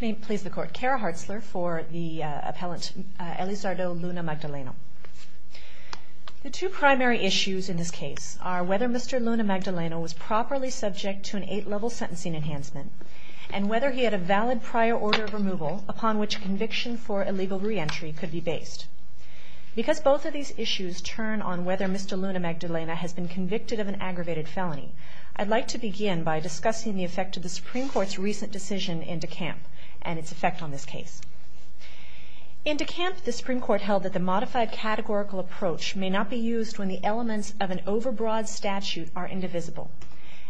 May it please the Court, Kara Hartzler for the appellant Elizardo Luna-Magdaleno. The two primary issues in this case are whether Mr. Luna-Magdaleno was properly subject to an eight-level sentencing enhancement and whether he had a valid prior order of removal upon which conviction for illegal re-entry could be based. Because both of these issues turn on whether Mr. Luna-Magdaleno has been convicted of an aggravated felony, I'd like to begin by discussing the effect of the Supreme Court's recent decision in De Camp and its effect on this case. In De Camp, the Supreme Court held that the modified categorical approach may not be used when the elements of an overbroad statute are indivisible.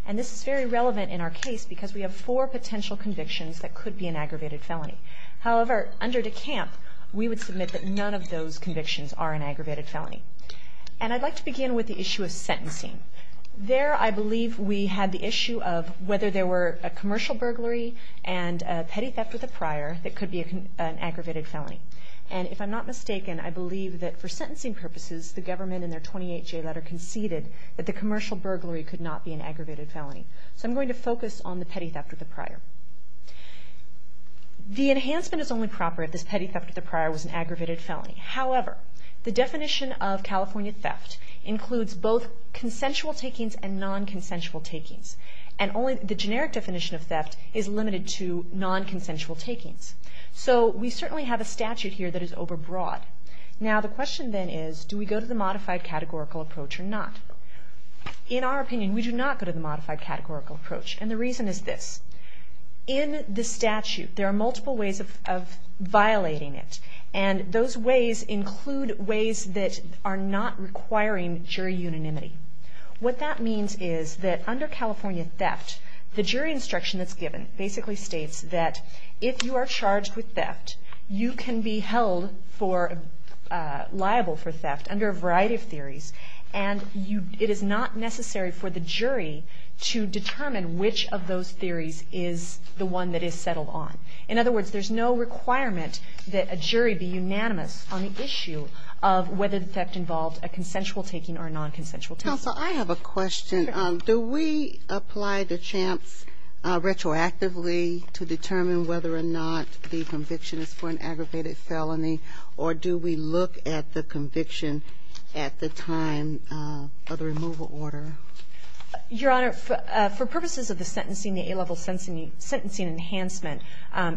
And this is very relevant in our case because we have four potential convictions that could be an aggravated felony. However, under De Camp, we would submit that none of those convictions are an aggravated felony. And I'd like to begin with the issue of sentencing. There, I believe we had the issue of whether there were a commercial burglary and a petty theft with a prior that could be an aggravated felony. And if I'm not mistaken, I believe that for sentencing purposes, the government in their 28-J letter conceded that the commercial burglary could not be an aggravated felony. So I'm going to focus on the petty theft with a prior. The enhancement is only proper if this petty theft with a prior was an aggravated felony. However, the definition of California theft includes both consensual takings and non-consensual takings. And only the generic definition of theft is limited to non-consensual takings. So we certainly have a statute here that is overbroad. Now, the question then is, do we go to the modified categorical approach or not? In our opinion, we do not go to the modified categorical approach. And the reason is this. In the statute, there are multiple ways of violating it. And those ways include ways that are not requiring jury unanimity. What that means is that under California theft, the jury instruction that's given basically states that if you are charged with theft, you can be held liable for theft under a variety of theories. And it is not necessary for the jury to determine which of those theories is the one that is settled on. In other words, there's no requirement that a jury be unanimous on the issue of whether the theft involved a consensual taking or a non-consensual taking. Counsel, I have a question. Do we apply the chance retroactively to determine whether or not the conviction is for an aggravated felony? Or do we look at the conviction at the time of the removal order? Your Honor, for purposes of the sentencing, the A-level sentencing enhancement,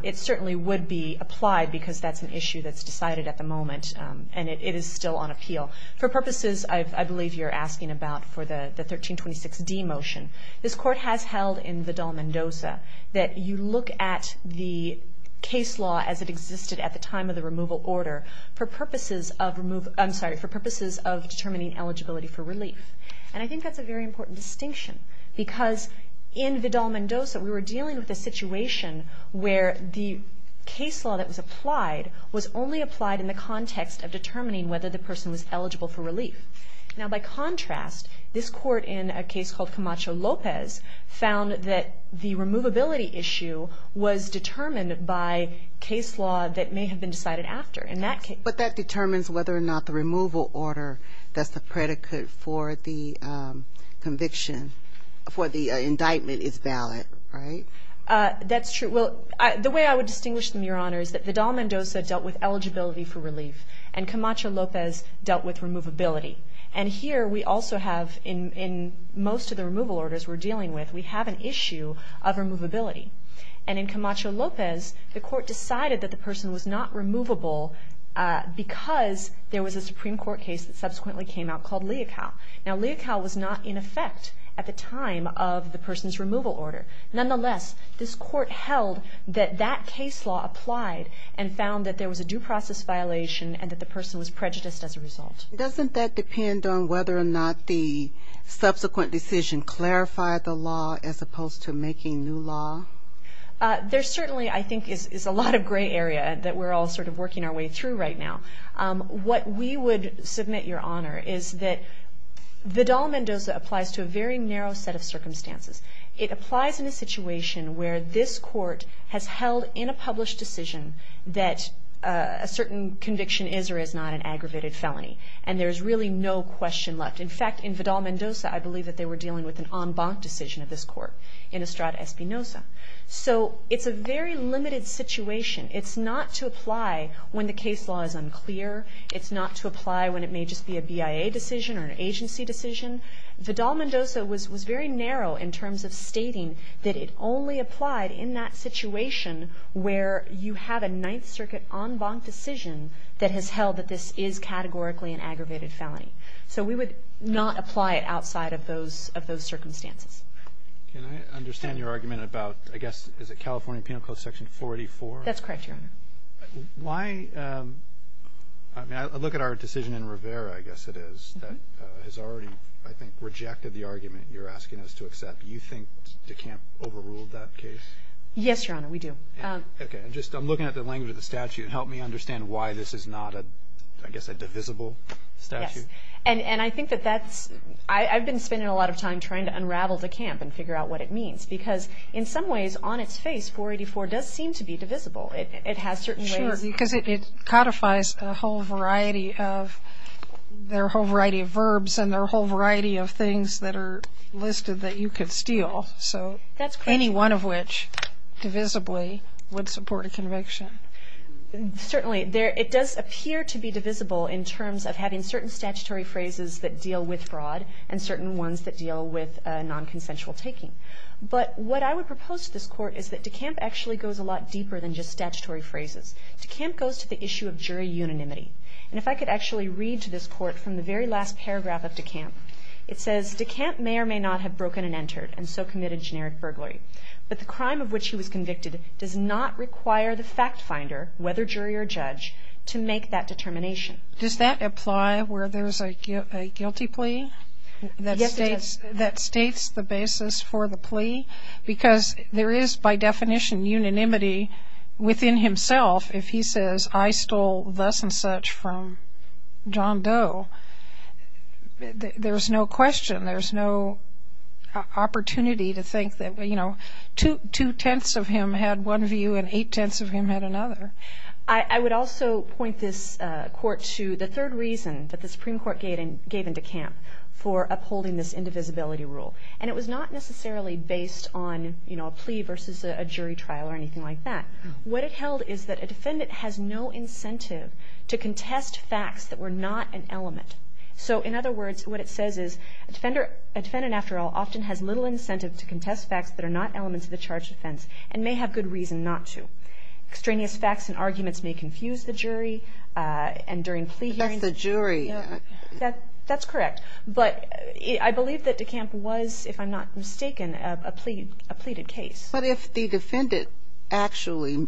it certainly would be applied because that's an issue that's decided at the moment. And it is still on appeal. For purposes, I believe you're asking about for the 1326d motion, this Court has held in the Dal Mendoza that you look at the case law as it existed at the time of the removal order for purposes of determining eligibility for relief. And I think that's a very important distinction because in the Dal Mendoza, we were dealing with a situation where the case law that was applied was only applied in the context of determining whether the person was eligible for relief. Now, by contrast, this Court in a case called Camacho-Lopez found that the removability issue was determined by case law that may have been decided after. But that determines whether or not the removal order that's the predicate for the conviction, for the indictment is valid, right? That's true. Well, the way I would distinguish them, Your Honor, is that the Dal Mendoza dealt with eligibility for relief. And Camacho-Lopez dealt with removability. And here we also have in most of the removal orders we're dealing with, we have an issue of removability. And in Camacho-Lopez, the Court decided that the person was not removable because there was a Supreme Court case that subsequently came out called Leocal. Now, Leocal was not in effect at the time of the person's removal order. Nonetheless, this Court held that that case law applied and found that there was a due process violation and that the person was prejudiced as a result. Doesn't that depend on whether or not the subsequent decision clarified the law as opposed to making new law? There certainly, I think, is a lot of gray area that we're all sort of working our way through right now. What we would submit, Your Honor, is that the Dal Mendoza applies to a very narrow set of circumstances. It applies in a situation where this Court has held in a published decision that a certain conviction is or is not an aggravated felony. And there's really no question left. In fact, in Vidal Mendoza, I believe that they were dealing with an en banc decision of this Court in Estrada Espinoza. So it's a very limited situation. It's not to apply when the case law is unclear. It's not to apply when it may just be a BIA decision or an agency decision. Vidal Mendoza was very narrow in terms of stating that it only applied in that situation where you have a Ninth Circuit en banc decision that has held that this is categorically an aggravated felony. So we would not apply it outside of those circumstances. Can I understand your argument about, I guess, is it California Penal Code Section 484? That's correct, Your Honor. Why, I mean, I look at our decision in Rivera, I guess it is, that has already, I think, rejected the argument you're asking us to accept. Do you think DeCamp overruled that case? Yes, Your Honor, we do. Okay. And just, I'm looking at the language of the statute. Help me understand why this is not a, I guess, a divisible statute. Yes. And I think that that's, I've been spending a lot of time trying to unravel DeCamp and figure out what it means. Because in some ways, on its face, 484 does seem to be divisible. It has certain ways. Sure, because it codifies a whole variety of, there are a whole variety of verbs and there are a whole variety of things that are listed that you could steal. So any one of which, divisibly, would support a conviction. Certainly. It does appear to be divisible in terms of having certain statutory phrases that deal with fraud and certain ones that deal with nonconsensual taking. But what I would propose to this Court is that DeCamp actually goes a lot deeper than just statutory phrases. DeCamp goes to the issue of jury unanimity. And if I could actually read to this Court from the very last paragraph of DeCamp, it says, DeCamp may or may not have broken and entered and so committed generic burglary. But the crime of which he was convicted does not require the fact finder, whether jury or judge, to make that determination. Does that apply where there's a guilty plea? Yes, it does. That states the basis for the plea because there is, by definition, unanimity within himself. If he says, I stole thus and such from John Doe, there's no question, there's no opportunity to think that, you know, two-tenths of him had one view and eight-tenths of him had another. I would also point this Court to the third reason that the Supreme Court gave DeCamp for upholding this indivisibility rule. And it was not necessarily based on, you know, a plea versus a jury trial or anything like that. What it held is that a defendant has no incentive to contest facts that were not an element. So, in other words, what it says is a defendant, after all, often has little incentive to contest facts that are not elements of the charged offense and may have good reason not to. Extraneous facts and arguments may confuse the jury and during plea hearings. But that's the jury. That's correct. But I believe that DeCamp was, if I'm not mistaken, a pleaded case. But if the defendant actually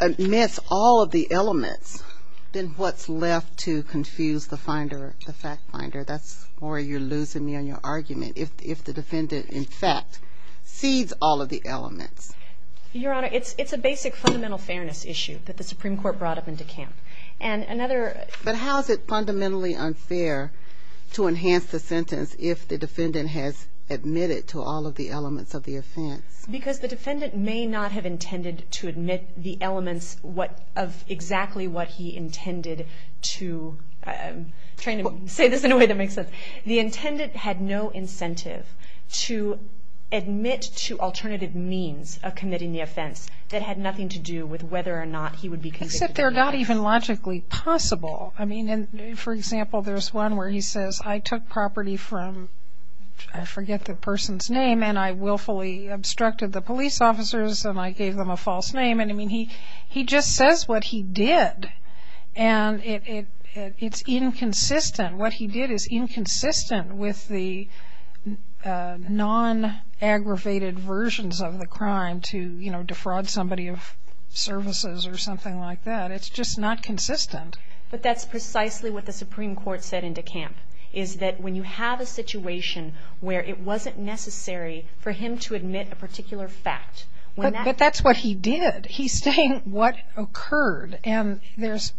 admits all of the elements, then what's left to confuse the fact finder? That's where you're losing me on your argument. If the defendant, in fact, cedes all of the elements. Your Honor, it's a basic fundamental fairness issue that the Supreme Court brought up in DeCamp. But how is it fundamentally unfair to enhance the sentence if the defendant has admitted to all of the elements of the offense? Because the defendant may not have intended to admit the elements of exactly what he intended to... I'm trying to say this in a way that makes sense. The intendant had no incentive to admit to alternative means of committing the offense that had nothing to do with whether or not he would be convicted. It's that they're not even logically possible. I mean, for example, there's one where he says, I took property from, I forget the person's name, and I willfully obstructed the police officers and I gave them a false name. And, I mean, he just says what he did. And it's inconsistent. What he did is inconsistent with the non-aggravated versions of the crime to defraud somebody of services or something like that. It's just not consistent. But that's precisely what the Supreme Court said in DeCamp, is that when you have a situation where it wasn't necessary for him to admit a particular fact... But that's what he did. He's saying what occurred. And there's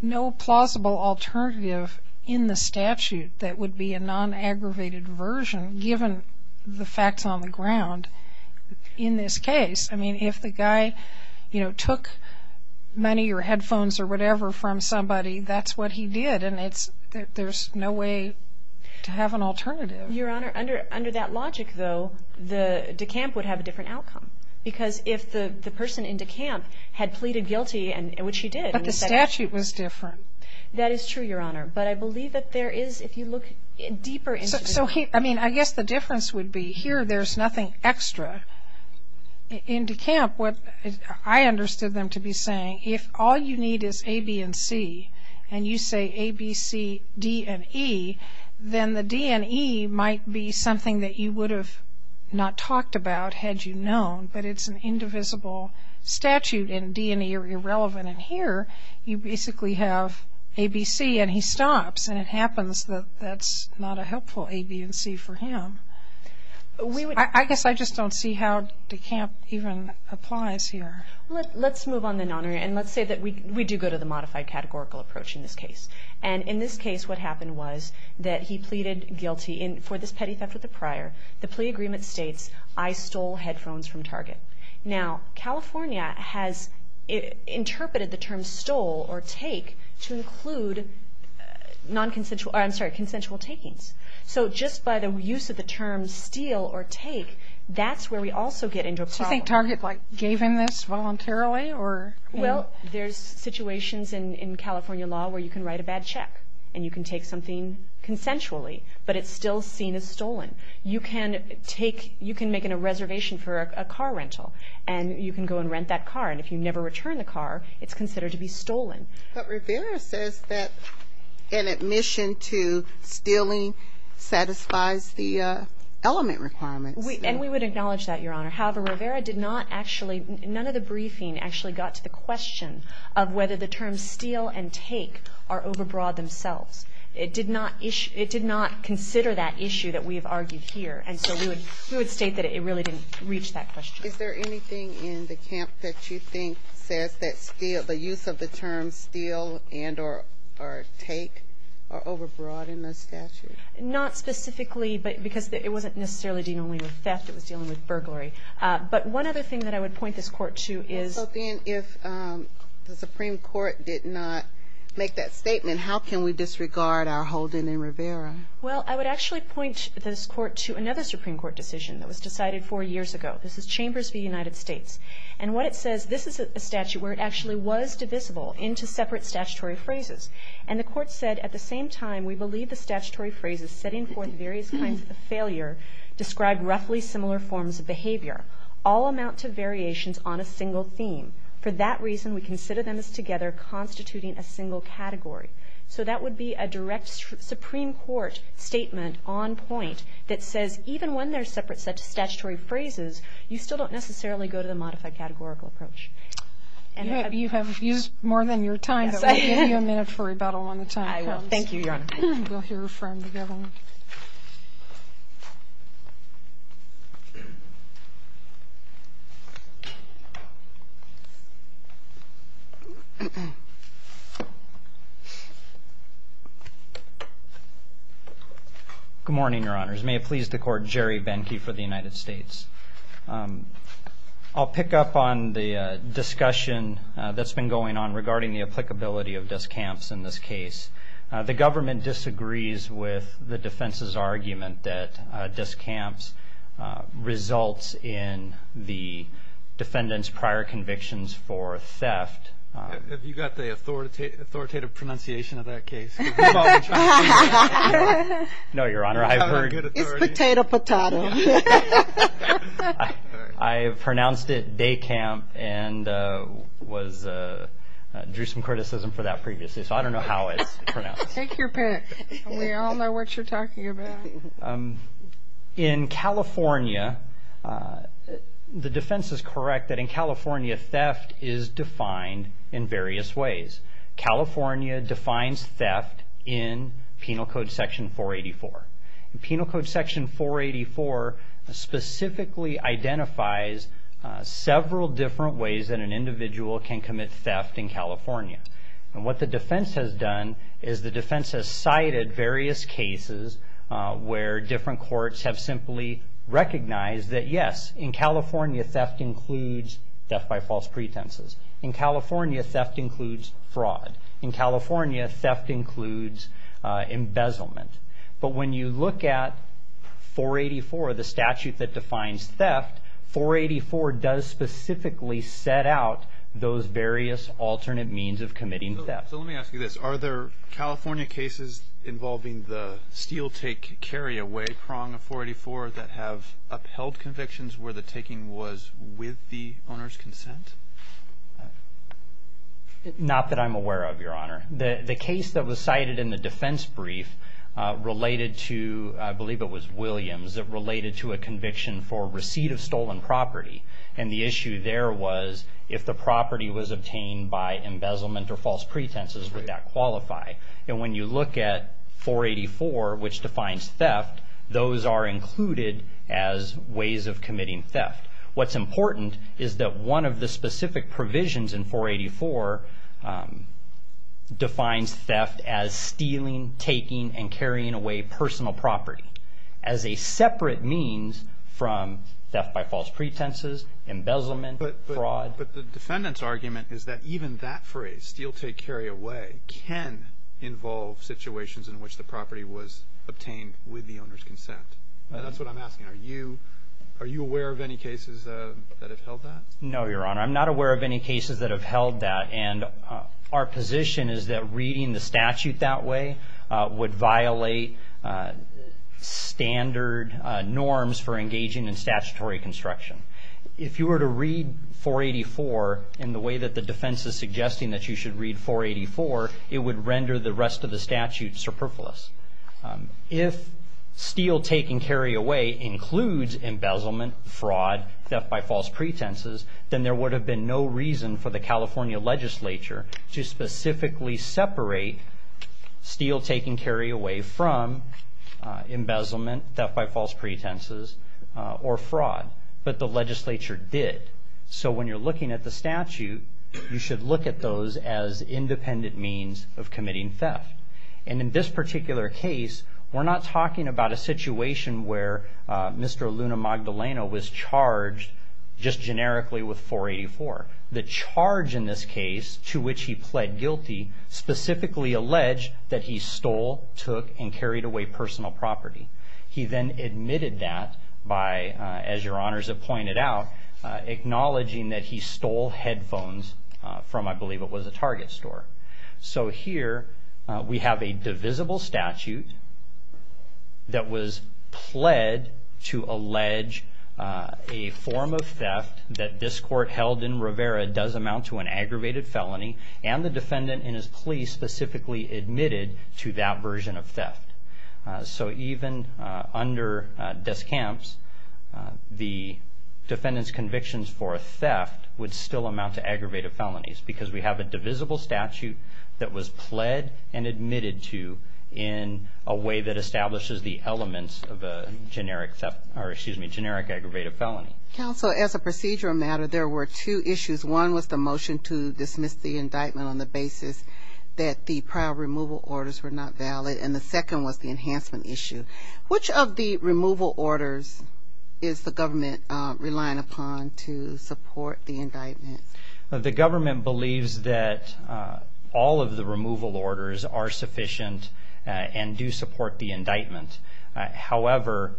no plausible alternative in the statute that would be a non-aggravated version given the facts on the ground in this case. I mean, if the guy, you know, took money or headphones or whatever from somebody, that's what he did. And there's no way to have an alternative. Your Honor, under that logic, though, DeCamp would have a different outcome. Because if the person in DeCamp had pleaded guilty, which he did... But the statute was different. That is true, Your Honor. But I believe that there is, if you look deeper into this... So, I mean, I guess the difference would be here there's nothing extra. In DeCamp, what I understood them to be saying, if all you need is A, B, and C, and you say A, B, C, D, and E, then the D and E might be something that you would have not talked about had you known... But it's an indivisible statute, and D and E are irrelevant. And here, you basically have A, B, C, and he stops. And it happens that that's not a helpful A, B, and C for him. I guess I just don't see how DeCamp even applies here. Let's move on then, Your Honor. And let's say that we do go to the modified categorical approach in this case. And in this case, what happened was that he pleaded guilty... And for this petty theft of the prior, the plea agreement states, I stole headphones from Target. Now, California has interpreted the term stole or take to include consensual takings. So just by the use of the term steal or take, that's where we also get into a problem. Do you think Target gave him this voluntarily? Well, there's situations in California law where you can write a bad check, and you can take something consensually, but it's still seen as stolen. You can make a reservation for a car rental, and you can go and rent that car. But Rivera says that an admission to stealing satisfies the element requirements. And we would acknowledge that, Your Honor. However, Rivera did not actually, none of the briefing actually got to the question of whether the terms steal and take are overbroad themselves. It did not consider that issue that we have argued here. And so we would state that it really didn't reach that question. Is there anything in the camp that you think says that steal, the use of the term steal and or take are overbroad in the statute? Not specifically because it wasn't necessarily dealing only with theft. It was dealing with burglary. But one other thing that I would point this Court to is. Well, so then if the Supreme Court did not make that statement, how can we disregard our holding in Rivera? Well, I would actually point this Court to another Supreme Court decision that was decided four years ago. This is Chambers v. United States. And what it says, this is a statute where it actually was divisible into separate statutory phrases. And the Court said, at the same time, we believe the statutory phrases setting forth various kinds of failure describe roughly similar forms of behavior. All amount to variations on a single theme. For that reason, we consider them as together constituting a single category. So that would be a direct Supreme Court statement on point that says, even when they're separate statutory phrases, you still don't necessarily go to the modified categorical approach. You have used more than your time, but we'll give you a minute for rebuttal on the time. I will. Thank you, Your Honor. We'll hear from the government. Good morning, Your Honors. May it please the Court, Jerry Benke for the United States. I'll pick up on the discussion that's been going on regarding the applicability of discamps in this case. The government disagrees with the defense's argument that discamps results in the defendant's prior convictions for theft. Have you got the authoritative pronunciation of that case? No, Your Honor. I've pronounced it day camp and drew some criticism for that previously, so I don't know how it's pronounced. Take your pick. We all know what you're talking about. In California, the defense is correct that in California, theft is defined in various ways. California defines theft in Penal Code Section 484. Penal Code Section 484 specifically identifies several different ways that an individual can commit theft in California. What the defense has done is the defense has cited various cases where different courts have simply recognized that, yes, in California theft includes theft by false pretenses. In California, theft includes fraud. In California, theft includes embezzlement. But when you look at 484, the statute that defines theft, 484 does specifically set out those various alternate means of committing theft. So let me ask you this. Are there California cases involving the steal-take-carry-away prong of 484 that have upheld convictions where the taking was with the owner's consent? Not that I'm aware of, Your Honor. The case that was cited in the defense brief related to, I believe it was Williams, that related to a conviction for receipt of stolen property, and the issue there was if the property was obtained by embezzlement or false pretenses, would that qualify? And when you look at 484, which defines theft, those are included as ways of committing theft. What's important is that one of the specific provisions in 484 defines theft as stealing, taking, and carrying away personal property as a separate means from theft by false pretenses, embezzlement, fraud. But the defendant's argument is that even that phrase, steal-take-carry-away, can involve situations in which the property was obtained with the owner's consent. That's what I'm asking. Are you aware of any cases that have held that? No, Your Honor. I'm not aware of any cases that have held that, and our position is that reading the statute that way would violate standard norms for engaging in statutory construction. If you were to read 484 in the way that the defense is suggesting that you should read 484, it would render the rest of the statute superfluous. If steal-take-and-carry-away includes embezzlement, fraud, theft by false pretenses, then there would have been no reason for the California legislature to specifically separate steal-take-and-carry-away from embezzlement, theft by false pretenses, or fraud. But the legislature did. So when you're looking at the statute, you should look at those as independent means of committing theft. And in this particular case, we're not talking about a situation where Mr. Luna Magdaleno was charged just generically with 484. The charge in this case, to which he pled guilty, specifically alleged that he stole, took, and carried away personal property. He then admitted that by, as your honors have pointed out, acknowledging that he stole headphones from, I believe it was a Target store. So here we have a divisible statute that was pled to allege a form of theft that this court held in Rivera does amount to an aggravated felony, and the defendant in his plea specifically admitted to that version of theft. So even under Descamps, the defendant's convictions for theft would still amount to aggravated felonies because we have a divisible statute that was pled and admitted to in a way that establishes the elements of a generic aggravated felony. Counsel, as a procedural matter, there were two issues. One was the motion to dismiss the indictment on the basis that the prior removal orders were not valid, and the second was the enhancement issue. Which of the removal orders is the government relying upon to support the indictment? The government believes that all of the removal orders are sufficient and do support the indictment. However,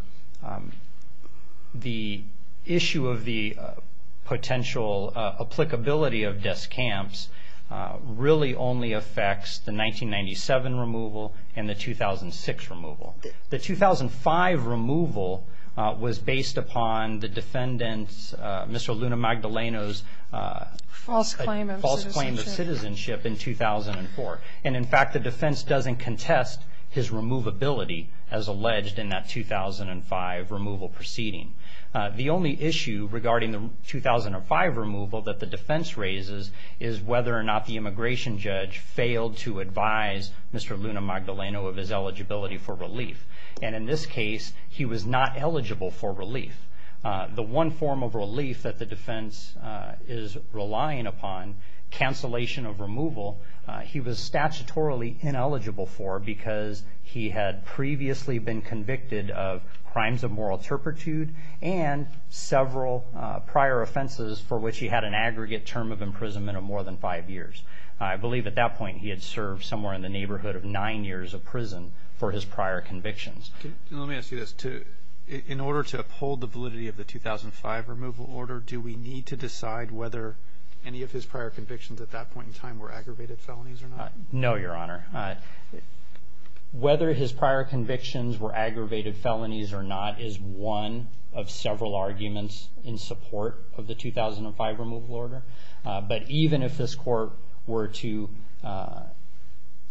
the issue of the potential applicability of Descamps really only affects the 1997 removal and the 2006 removal. The 2005 removal was based upon the defendant, Mr. Luna Magdaleno's false claim of citizenship in 2004, and in fact the defense doesn't contest his removability as alleged in that 2005 removal proceeding. The only issue regarding the 2005 removal that the defense raises is whether or not the immigration judge failed to advise Mr. Luna Magdaleno of his eligibility for relief. And in this case, he was not eligible for relief. The one form of relief that the defense is relying upon, cancellation of removal, he was statutorily ineligible for because he had previously been convicted of crimes of moral turpitude and several prior offenses for which he had an aggregate term of imprisonment of more than five years. I believe at that point he had served somewhere in the neighborhood of nine years of prison for his prior convictions. Let me ask you this. In order to uphold the validity of the 2005 removal order, do we need to decide whether any of his prior convictions at that point in time were aggravated felonies or not? No, Your Honor. Whether his prior convictions were aggravated felonies or not is one of several arguments in support of the 2005 removal order. But even if this court were to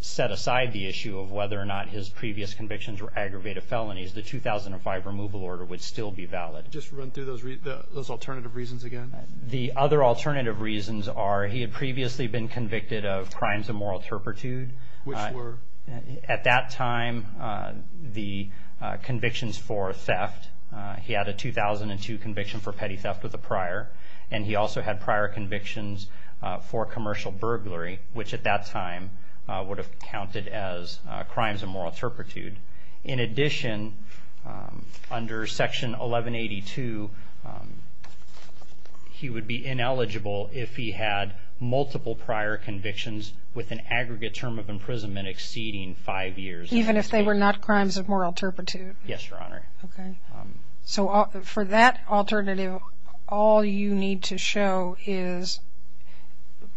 set aside the issue of whether or not his previous convictions were aggravated felonies, the 2005 removal order would still be valid. Just run through those alternative reasons again. The other alternative reasons are he had previously been convicted of crimes of moral turpitude. Which were? At that time, the convictions for theft, he had a 2002 conviction for petty theft with a prior, and he also had prior convictions for commercial burglary, which at that time would have counted as crimes of moral turpitude. In addition, under Section 1182, he would be ineligible if he had multiple prior convictions with an aggregate term of imprisonment exceeding five years. Even if they were not crimes of moral turpitude? Yes, Your Honor. Okay. So for that alternative, all you need to show is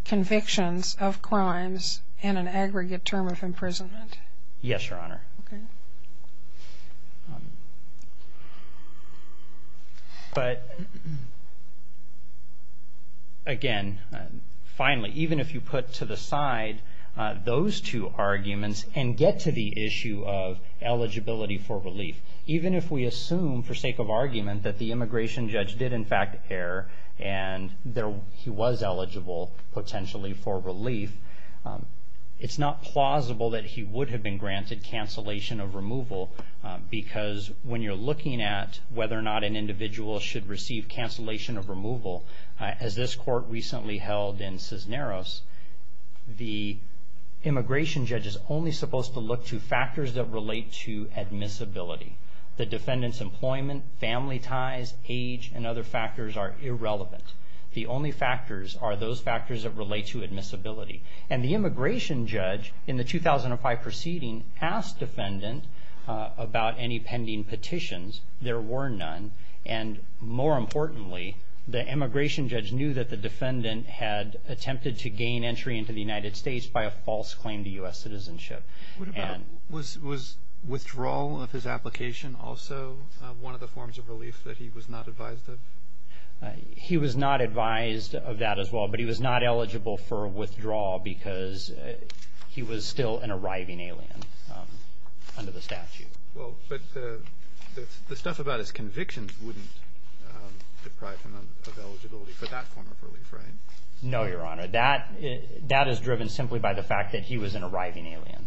convictions of crimes and an aggregate term of imprisonment? Yes, Your Honor. Okay. But again, finally, even if you put to the side those two arguments and get to the issue of eligibility for relief, even if we assume for sake of argument that the immigration judge did in fact err and he was eligible potentially for relief, it's not plausible that he would have been granted cancellation of removal because when you're looking at whether or not an individual should receive cancellation of removal, as this court recently held in Cisneros, the immigration judge is only supposed to look to factors that relate to admissibility. The defendant's employment, family ties, age, and other factors are irrelevant. The only factors are those factors that relate to admissibility. And the immigration judge in the 2005 proceeding asked defendant about any pending petitions. There were none. And more importantly, the immigration judge knew that the defendant had attempted to gain entry into the United States by a false claim to U.S. citizenship. Was withdrawal of his application also one of the forms of relief that he was not advised of? He was not advised of that as well, but he was not eligible for withdrawal because he was still an arriving alien under the statute. But the stuff about his convictions wouldn't deprive him of eligibility for that form of relief, right? No, Your Honor. That is driven simply by the fact that he was an arriving alien.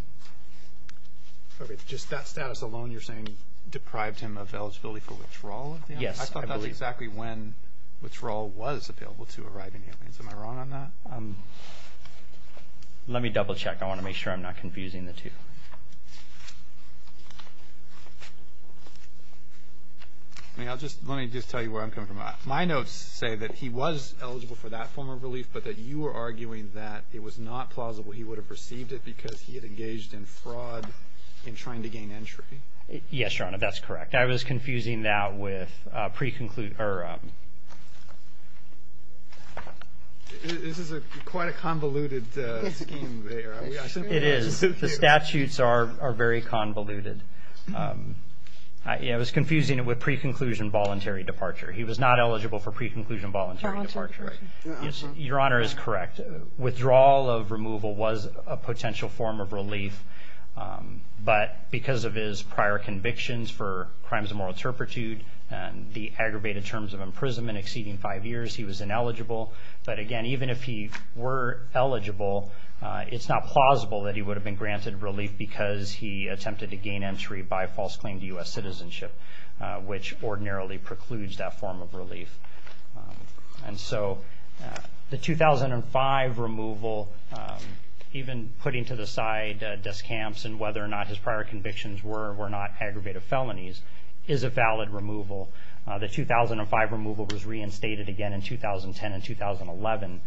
Just that status alone you're saying deprived him of eligibility for withdrawal? Yes. I thought that's exactly when withdrawal was available to arriving aliens. Am I wrong on that? Let me double check. I want to make sure I'm not confusing the two. Let me just tell you where I'm coming from. My notes say that he was eligible for that form of relief, but that you are arguing that it was not plausible he would have received it because he had engaged in fraud in trying to gain entry. Yes, Your Honor, that's correct. I was confusing that with pre-conclusion. This is quite a convoluted scheme there. It is. The statutes are very convoluted. I was confusing it with pre-conclusion voluntary departure. He was not eligible for pre-conclusion voluntary departure. Your Honor is correct. Withdrawal of removal was a potential form of relief, but because of his prior convictions for crimes of moral turpitude and the aggravated terms of imprisonment exceeding five years, he was ineligible. But, again, even if he were eligible, it's not plausible that he would have been granted relief because he attempted to gain entry by false claim to U.S. citizenship, which ordinarily precludes that form of relief. And so the 2005 removal, even putting to the side Des Camps and whether or not his prior convictions were or were not aggravated felonies, is a valid removal. The 2005 removal was reinstated again in 2010 and 2011,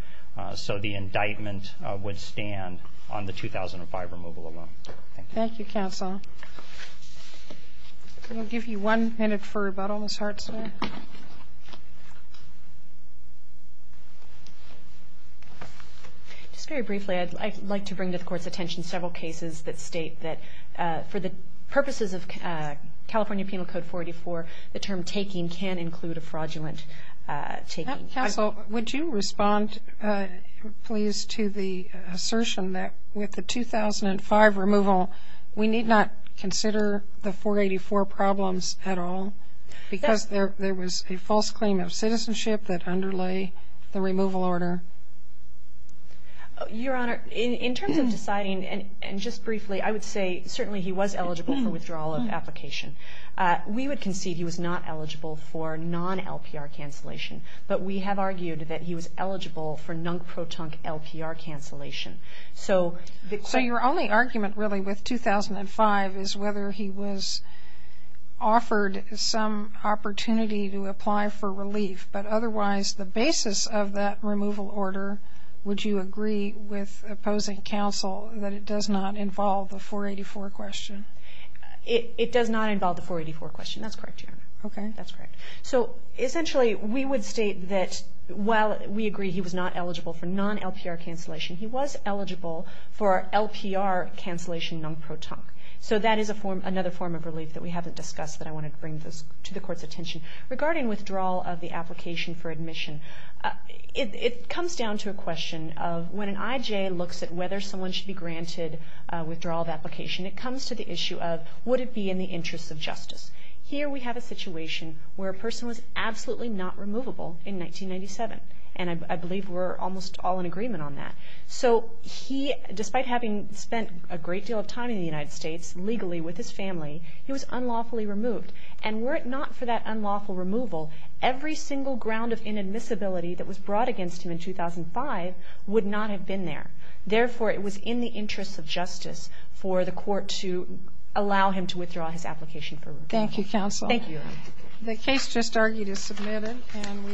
so the indictment would stand on the 2005 removal alone. Thank you. Thank you, counsel. We'll give you one minute for rebuttal, Ms. Hartzler. Just very briefly, I'd like to bring to the Court's attention several cases that state that for the purposes of California Penal Code 44, the term taking can include a fraudulent taking. Counsel, would you respond, please, to the assertion that with the 2005 removal, we need not consider the 484 problems at all because there was a false claim of citizenship that underlay the removal order? Your Honor, in terms of deciding, and just briefly, I would say certainly he was eligible for withdrawal of application. We would concede he was not eligible for non-LPR cancellation, but we have argued that he was eligible for non-proton LPR cancellation. So your only argument really with 2005 is whether he was offered some opportunity to apply for relief, but otherwise the basis of that removal order, would you agree with opposing counsel that it does not involve the 484 question? It does not involve the 484 question. That's correct, Your Honor. Okay. That's correct. So essentially we would state that while we agree he was not eligible for non-LPR cancellation, he was eligible for LPR cancellation non-proton. So that is another form of relief that we haven't discussed that I wanted to bring to the Court's attention. Regarding withdrawal of the application for admission, it comes down to a question of when an IJ looks at whether someone should be granted withdrawal of application, it comes to the issue of would it be in the interest of justice. Here we have a situation where a person was absolutely not removable in 1997, and I believe we're almost all in agreement on that. So he, despite having spent a great deal of time in the United States legally with his family, he was unlawfully removed. And were it not for that unlawful removal, every single ground of inadmissibility that was brought against him in 2005 would not have been there. Therefore, it was in the interest of justice for the Court to allow him to withdraw his application for removal. Thank you, counsel. Thank you. The case just argued is submitted. And we...